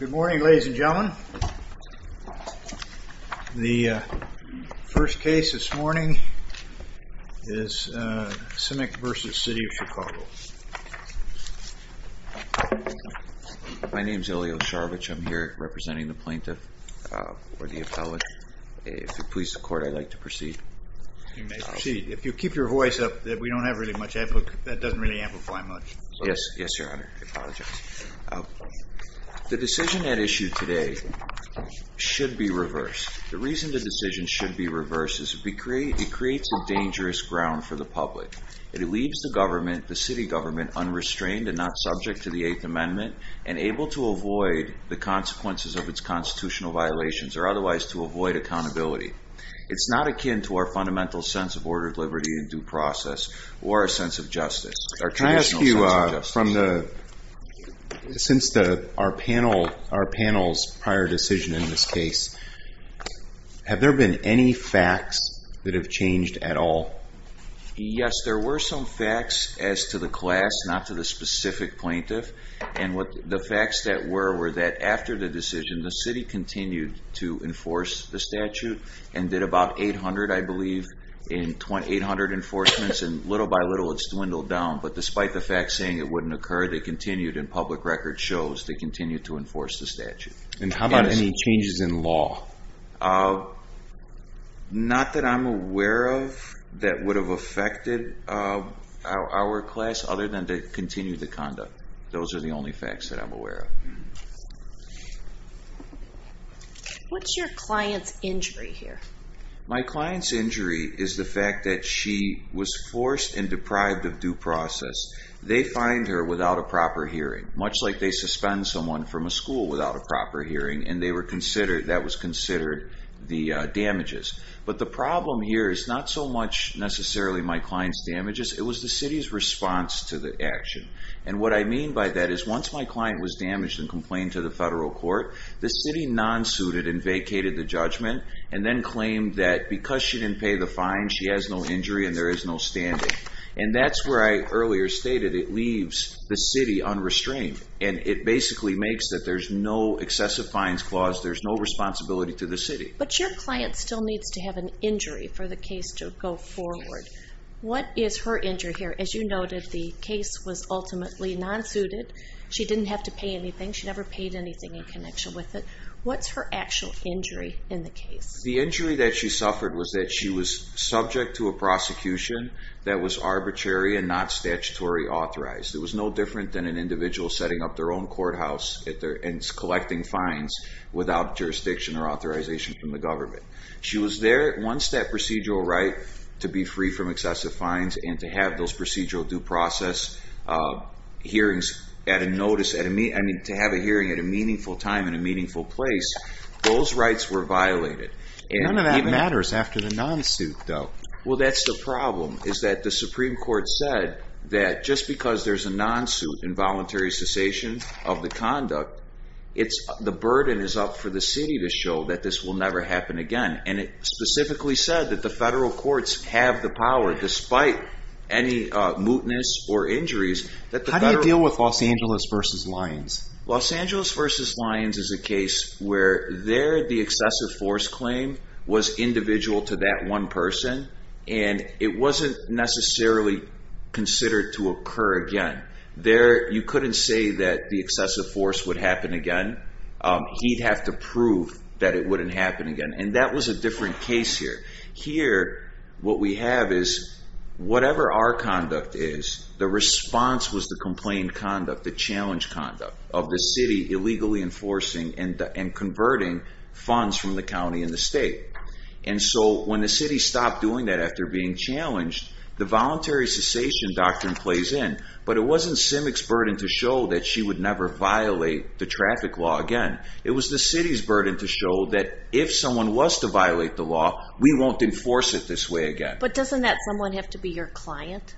Good morning, ladies and gentlemen. The first case this morning is Simic v. City of Chicago. My name is Ilya Ocharovitch. I'm here representing the plaintiff or the appellate. If it pleases the court, I'd like to proceed. You may proceed. If you keep your voice up, we don't have really much. That doesn't really amplify much. The decision at issue today should be reversed. The reason the decision should be reversed is it creates a dangerous ground for the public. It leaves the city government unrestrained and not subject to the Eighth Amendment and able to avoid the consequences of its constitutional violations or otherwise to avoid accountability. It's not akin to our fundamental sense of ordered liberty and due process or a sense of justice. Can I ask you, since our panel's prior decision in this case, have there been any facts that have changed at all? Yes, there were some facts as to the class, not to the specific plaintiff. The facts that were were that after the decision, the city continued to enforce the statute and did about 800, I believe, in 800 enforcements. Little by little, it's dwindled down, but despite the facts saying it wouldn't occur, they continued and public record shows they continued to enforce the statute. How about any changes in law? Not that I'm aware of that would have affected our class other than to continue the conduct. Those are the only facts that I'm aware of. What's your client's injury here? My client's injury is the fact that she was forced and deprived of due process. They find her without a proper hearing, much like they suspend someone from a school without a proper hearing, and that was considered the damages. But the problem here is not so much necessarily my client's damages. It was the city's response to the action. And what I mean by that is once my client was damaged and complained to the federal court, the city non-suited and vacated the judgment and then claimed that because she didn't pay the fine, she has no injury and there is no standing. And that's where I earlier stated it leaves the city unrestrained, and it basically makes that there's no excessive fines clause. There's no responsibility to the city. But your client still needs to have an injury for the case to go forward. What is her injury here? As you noted, the case was ultimately non-suited. She didn't have to pay anything. She never paid anything in connection with it. What's her actual injury in the case? The injury that she suffered was that she was subject to a prosecution that was arbitrary and not statutory authorized. It was no different than an individual setting up their own courthouse and collecting fines without jurisdiction or authorization from the government. She was there. Once that procedural right to be free from excessive fines and to have those procedural due process hearings at a notice, I mean, to have a hearing at a meaningful time in a meaningful place, those rights were violated. None of that matters after the non-suit, though. Well, that's the problem is that the Supreme Court said that just because there's a non-suit involuntary cessation of the conduct, it's the burden is up for the city to show that this will never happen again. And it specifically said that the federal courts have the power, despite any mootness or injuries. How do you deal with Los Angeles versus Lyons? Los Angeles versus Lyons is a case where there the excessive force claim was individual to that one person, and it wasn't necessarily considered to occur again there. You couldn't say that the excessive force would happen again. He'd have to prove that it wouldn't happen again. And that was a different case here. Here, what we have is whatever our conduct is, the response was the complaint conduct, the challenge conduct of the city illegally enforcing and converting funds from the county and the state. And so when the city stopped doing that after being challenged, the voluntary cessation doctrine plays in. But it wasn't Simic's burden to show that she would never violate the traffic law again. It was the city's burden to show that if someone was to violate the law, we won't enforce it this way again. But doesn't that someone have to be your client?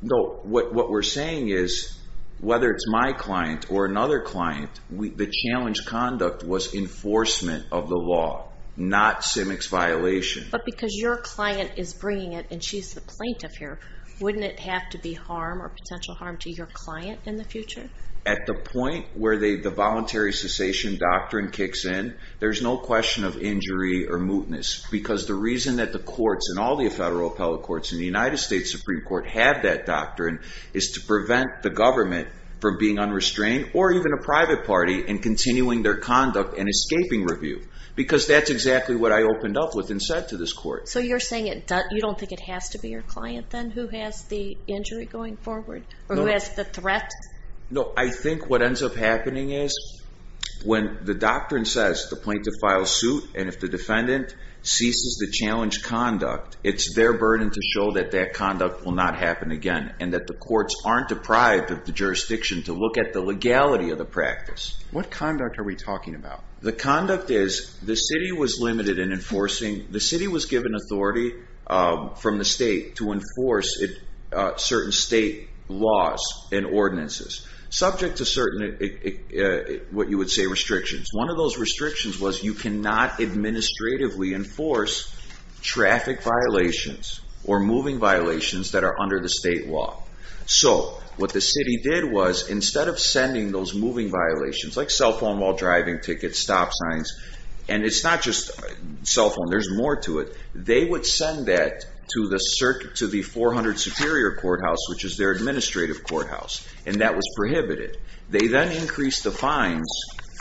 No. What we're saying is, whether it's my client or another client, the challenge conduct was enforcement of the law, not Simic's violation. But because your client is bringing it, and she's the plaintiff here, wouldn't it have to be harm or potential harm to your client in the future? At the point where the voluntary cessation doctrine kicks in, there's no question of injury or mootness. Because the reason that the courts and all the federal appellate courts in the United States Supreme Court have that doctrine is to prevent the government from being unrestrained or even a private party in continuing their conduct and escaping review. Because that's exactly what I opened up with and said to this court. So you're saying you don't think it has to be your client then who has the injury going forward? Or who has the threat? No, I think what ends up happening is when the doctrine says the plaintiff files suit and if the defendant ceases the challenge conduct, it's their burden to show that that conduct will not happen again. And that the courts aren't deprived of the jurisdiction to look at the legality of the practice. What conduct are we talking about? The conduct is the city was limited in enforcing, the city was given authority from the state to enforce certain state laws and ordinances. Subject to certain, what you would say, restrictions. One of those restrictions was you cannot administratively enforce traffic violations or moving violations that are under the state law. So what the city did was instead of sending those moving violations, like cell phone while driving, tickets, stop signs, and it's not just cell phone, there's more to it. They would send that to the 400 Superior Courthouse, which is their administrative courthouse. And that was prohibited. They then increased the fines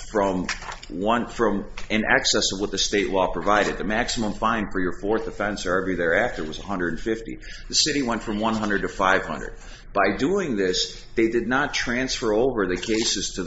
from an excess of what the state law provided. The maximum fine for your fourth offense or every thereafter was $150. The city went from $100 to $500. By doing this, they did not transfer over the cases to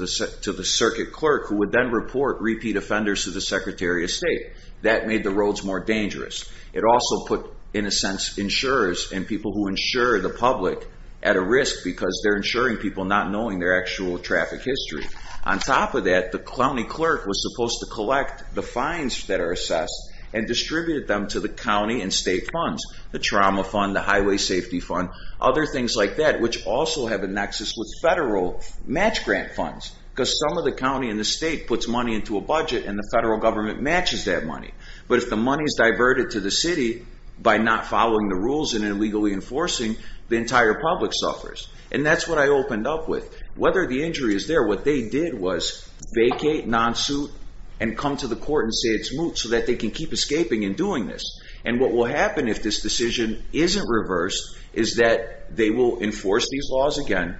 the circuit clerk who would then report repeat offenders to the Secretary of State. That made the roads more dangerous. It also put, in a sense, insurers and people who insure the public at a risk because they're insuring people not knowing their actual traffic history. On top of that, the county clerk was supposed to collect the fines that are assessed and distribute them to the county and state funds, the trauma fund, the highway safety fund, other things like that, which also have a nexus with federal match grant funds because some of the county and the state puts money into a budget and the federal government matches that money. But if the money is diverted to the city by not following the rules and illegally enforcing, the entire public suffers. And that's what I opened up with. Whether the injury is there, what they did was vacate, non-suit, and come to the court and say it's moot so that they can keep escaping and doing this. And what will happen if this decision isn't reversed is that they will enforce these laws again,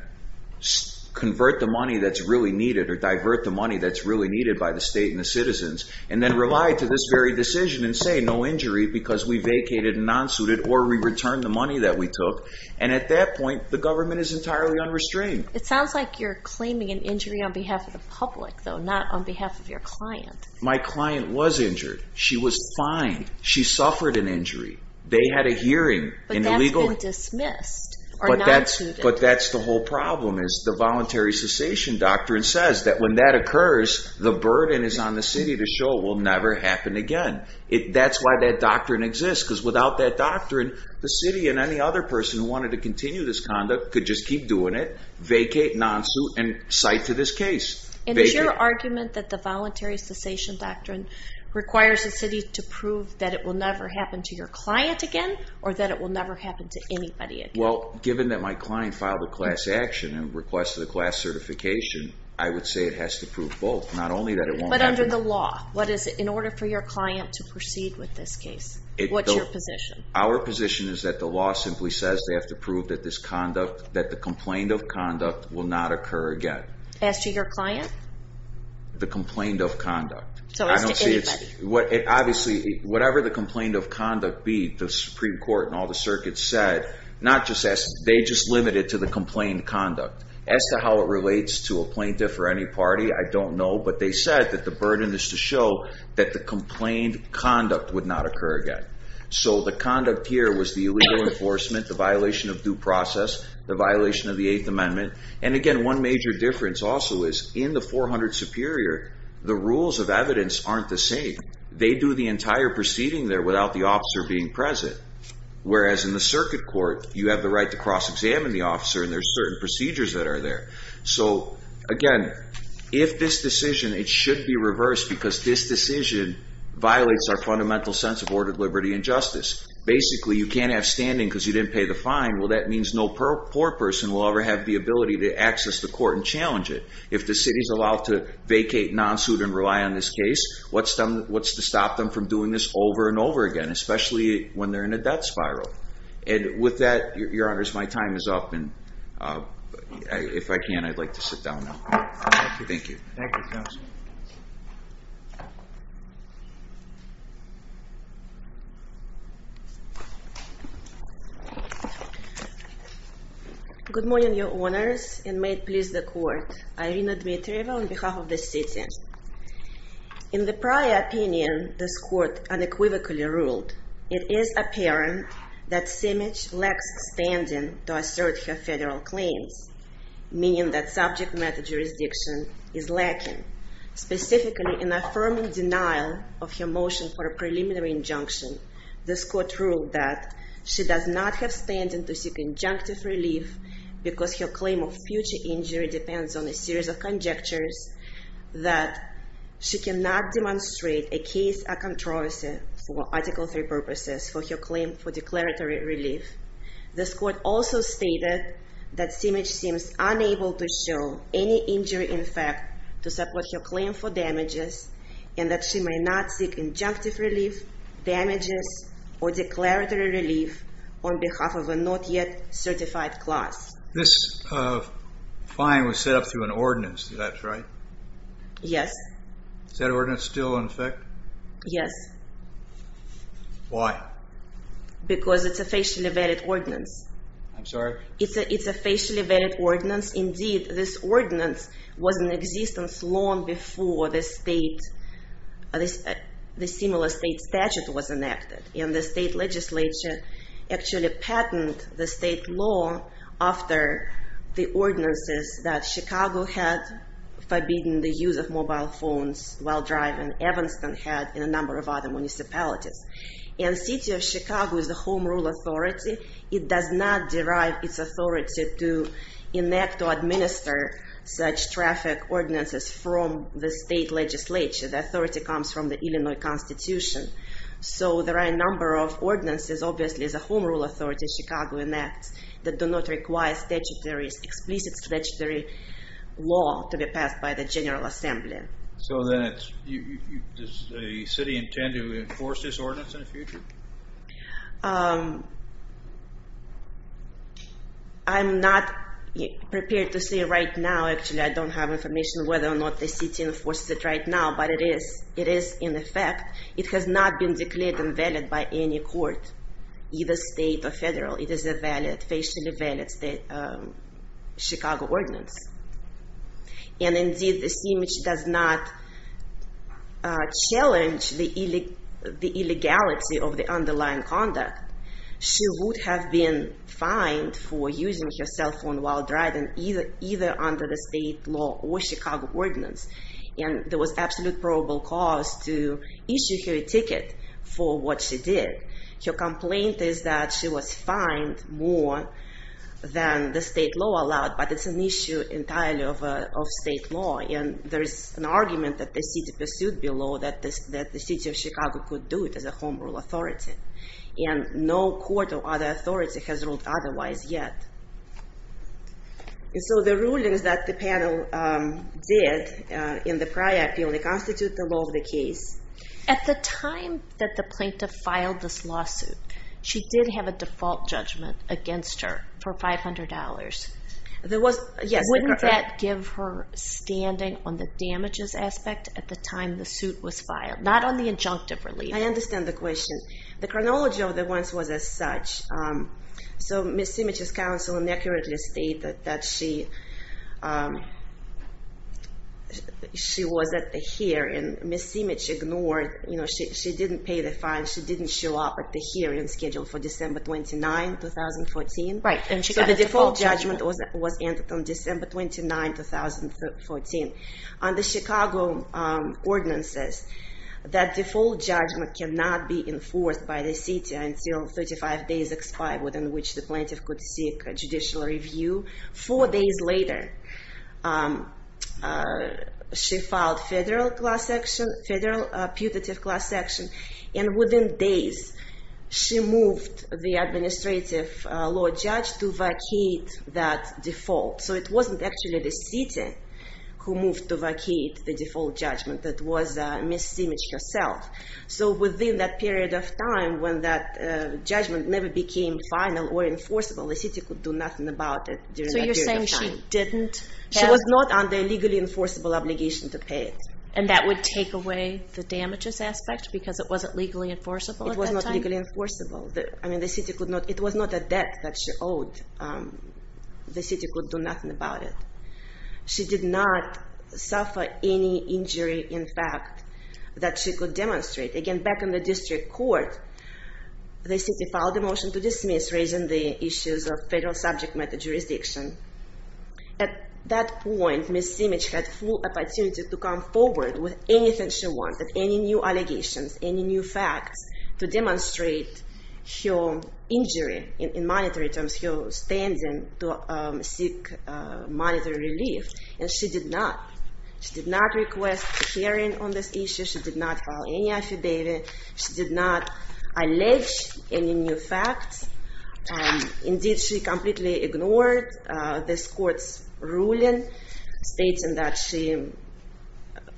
convert the money that's really needed or divert the money that's really needed by the state and the citizens, and then rely to this very decision and say no injury because we vacated and non-suited or we returned the money that we took. And at that point, the government is entirely unrestrained. It sounds like you're claiming an injury on behalf of the public, though, not on behalf of your client. My client was injured. She was fine. She suffered an injury. They had a hearing. But that's been dismissed or non-suited. But that's the whole problem is the voluntary cessation doctrine says that when that occurs, the burden is on the city to show it will never happen again. That's why that doctrine exists because without that doctrine, the city and any other person who wanted to continue this conduct could just keep doing it, vacate, non-suit, and cite to this case. And is your argument that the voluntary cessation doctrine requires the city to prove that it will never happen to your client again or that it will never happen to anybody again? Well, given that my client filed a class action and requested a class certification, I would say it has to prove both, not only that it won't happen again. But under the law, what is it in order for your client to proceed with this case? What's your position? Our position is that the law simply says they have to prove that this conduct, that the complaint of conduct will not occur again. As to your client? The complaint of conduct. So as to anybody. Obviously, whatever the complaint of conduct be, the Supreme Court and all the circuits said, not just as, they just limit it to the complaint conduct. As to how it relates to a plaintiff or any party, I don't know. But they said that the burden is to show that the complaint conduct would not occur again. So the conduct here was the illegal enforcement, the violation of due process, the violation of the Eighth Amendment. And again, one major difference also is in the 400 Superior, the rules of evidence aren't the same. They do the entire proceeding there without the officer being present. Whereas in the circuit court, you have the right to cross-examine the officer and there are certain procedures that are there. So again, if this decision, it should be reversed because this decision violates our fundamental sense of ordered liberty and justice. Basically, you can't have standing because you didn't pay the fine. Well, that means no poor person will ever have the ability to access the court and challenge it. If the city is allowed to vacate non-suit and rely on this case, what's to stop them from doing this over and over again, especially when they're in a debt spiral? And with that, your honors, my time is up. And if I can, I'd like to sit down now. Thank you. Thank you, counsel. Good morning, your honors, and may it please the court. Irina Dmitrieva on behalf of the city. In the prior opinion, this court unequivocally ruled it is apparent that Simich lacks standing to assert her federal claims, meaning that subject matter jurisdiction is lacking. Specifically, in affirming denial of her motion for a preliminary injunction, this court ruled that she does not have standing to seek injunctive relief because her claim of future injury depends on a series of conjectures that she cannot demonstrate a case of controversy for Article III purposes for her claim for declaratory relief. This court also stated that Simich seems unable to show any injury in fact to support her claim for damages and that she may not seek injunctive relief, damages, or declaratory relief on behalf of a not yet certified class. This fine was set up through an ordinance, is that right? Yes. Is that ordinance still in effect? Yes. Why? Because it's a facially vetted ordinance. I'm sorry? It's a facially vetted ordinance. Indeed, this ordinance was in existence long before the similar state statute was enacted. And the state legislature actually patented the state law after the ordinances that Chicago had forbidden the use of mobile phones while driving, Evanston had, and a number of other municipalities. And the city of Chicago is the home rule authority. It does not derive its authority to enact or administer such traffic ordinances from the state legislature. The authority comes from the Illinois Constitution. So there are a number of ordinances, obviously, as a home rule authority, Chicago enacts that do not require explicit statutory law to be passed by the General Assembly. So does the city intend to enforce this ordinance in the future? I'm not prepared to say right now, actually. I don't have information whether or not the city enforces it right now, but it is in effect. It has not been declared invalid by any court, either state or federal. It is a valid, facially vetted Chicago ordinance. And indeed, this image does not challenge the illegality of the underlying conduct. She would have been fined for using her cell phone while driving, either under the state law or Chicago ordinance. And there was absolute probable cause to issue her a ticket for what she did. Her complaint is that she was fined more than the state law allowed, but it's an issue entirely of state law. And there is an argument that the city pursued below that the city of Chicago could do it as a home rule authority. And no court or other authority has ruled otherwise yet. And so the rulings that the panel did in the prior appeal, they constitute the law of the case. At the time that the plaintiff filed this lawsuit, she did have a default judgment against her for $500. Wouldn't that give her standing on the damages aspect at the time the suit was filed, not on the injunctive relief? I understand the question. The chronology of the ones was as such. So Ms. Simic's counsel inaccurately stated that she was at the hearing. Ms. Simic ignored. She didn't pay the fine. She didn't show up at the hearing scheduled for December 29, 2014. Right, and she got a default judgment. So the default judgment was entered on December 29, 2014. On the Chicago ordinances, that default judgment cannot be enforced by the city until 35 days expire within which the plaintiff could seek a judicial review. Four days later, she filed federal class action, federal putative class action. And within days, she moved the administrative law judge to vacate that default. So it wasn't actually the city who moved to vacate the default judgment. It was Ms. Simic herself. So within that period of time, when that judgment never became final or enforceable, the city could do nothing about it. So you're saying she didn't have… She was not under a legally enforceable obligation to pay it. And that would take away the damages aspect because it wasn't legally enforceable at that time? It was not legally enforceable. It was not a debt that she owed. The city could do nothing about it. She did not suffer any injury, in fact, that she could demonstrate. Again, back in the district court, the city filed a motion to dismiss, raising the issues of federal subject matter jurisdiction. At that point, Ms. Simic had full opportunity to come forward with anything she wanted, any new allegations, any new facts, to demonstrate her injury in monetary terms, her standing to seek monetary relief. And she did not. She did not request a hearing on this issue. She did not file any affidavit. She did not allege any new facts. Indeed, she completely ignored this court's ruling stating that she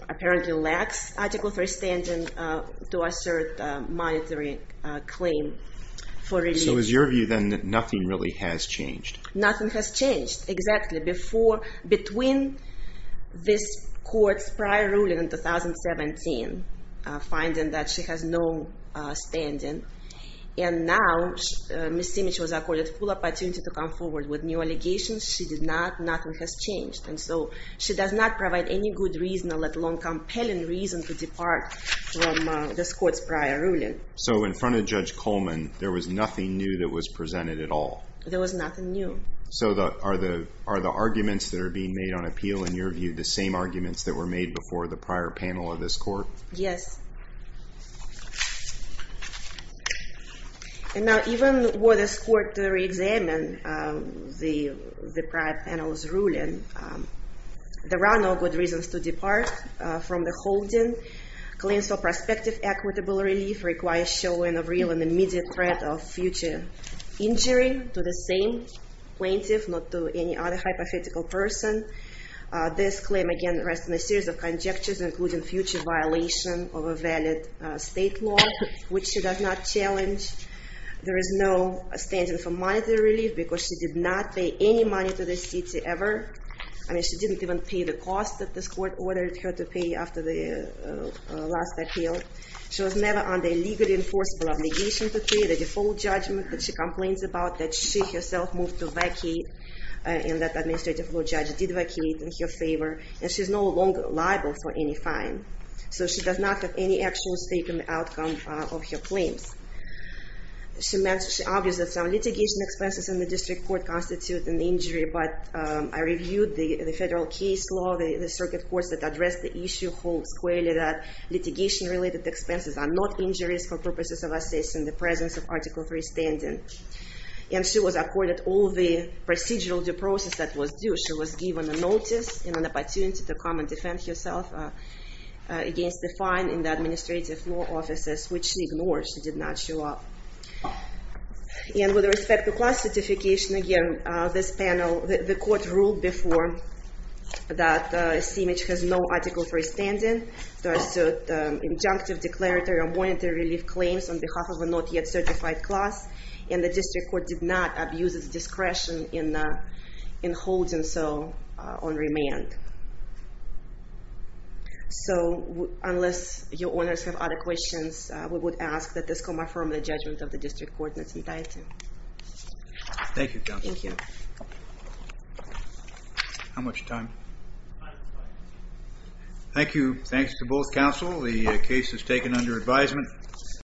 apparently lacks article 3 standing to assert monetary claim for relief. So it was your view then that nothing really has changed? Nothing has changed. Exactly. Between this court's prior ruling in 2017, finding that she has no standing, and now Ms. Simic was accorded full opportunity to come forward with new allegations, she did not. Nothing has changed. And so she does not provide any good reason, let alone compelling reason, to depart from this court's prior ruling. So in front of Judge Coleman, there was nothing new that was presented at all? There was nothing new. So are the arguments that are being made on appeal, in your view, the same arguments that were made before the prior panel of this court? Yes. Now, even were this court to re-examine the prior panel's ruling, there are no good reasons to depart from the holding. Claims for prospective equitable relief require showing a real and immediate threat of future injury to the same plaintiff, not to any other hypothetical person. This claim, again, rests on a series of conjectures, including future violation of a valid state law, which she does not challenge. There is no standing for monetary relief because she did not pay any money to the city ever. I mean, she didn't even pay the cost that this court ordered her to pay after the last appeal. She was never under a legally enforceable obligation to pay the default judgment that she complains about that she herself moved to vacate, and that administrative law judge did vacate in her favor. And she is no longer liable for any fine. So she does not have any actual stake in the outcome of her claims. She argues that some litigation expenses in the district court constitute an injury, but I reviewed the federal case law, the circuit courts that address the issue whole squarely, that litigation-related expenses are not injuries for purposes of assessing the presence of Article III standing. And she was accorded all the procedural due process that was due. She was given a notice and an opportunity to come and defend herself against the fine in the administrative law offices, which she ignored. She did not show up. And with respect to class certification, again, this panel, the court ruled before that CMH has no Article III standing to assert injunctive, declaratory, or monetary relief claims on behalf of a not yet certified class, and the district court did not abuse its discretion in holding so on remand. So unless your owners have other questions, we would ask that this come from the judgment of the district court in its entirety. Thank you, counsel. Thank you. How much time? Five minutes. Thank you. Thanks to both counsel. The case is taken under advisement.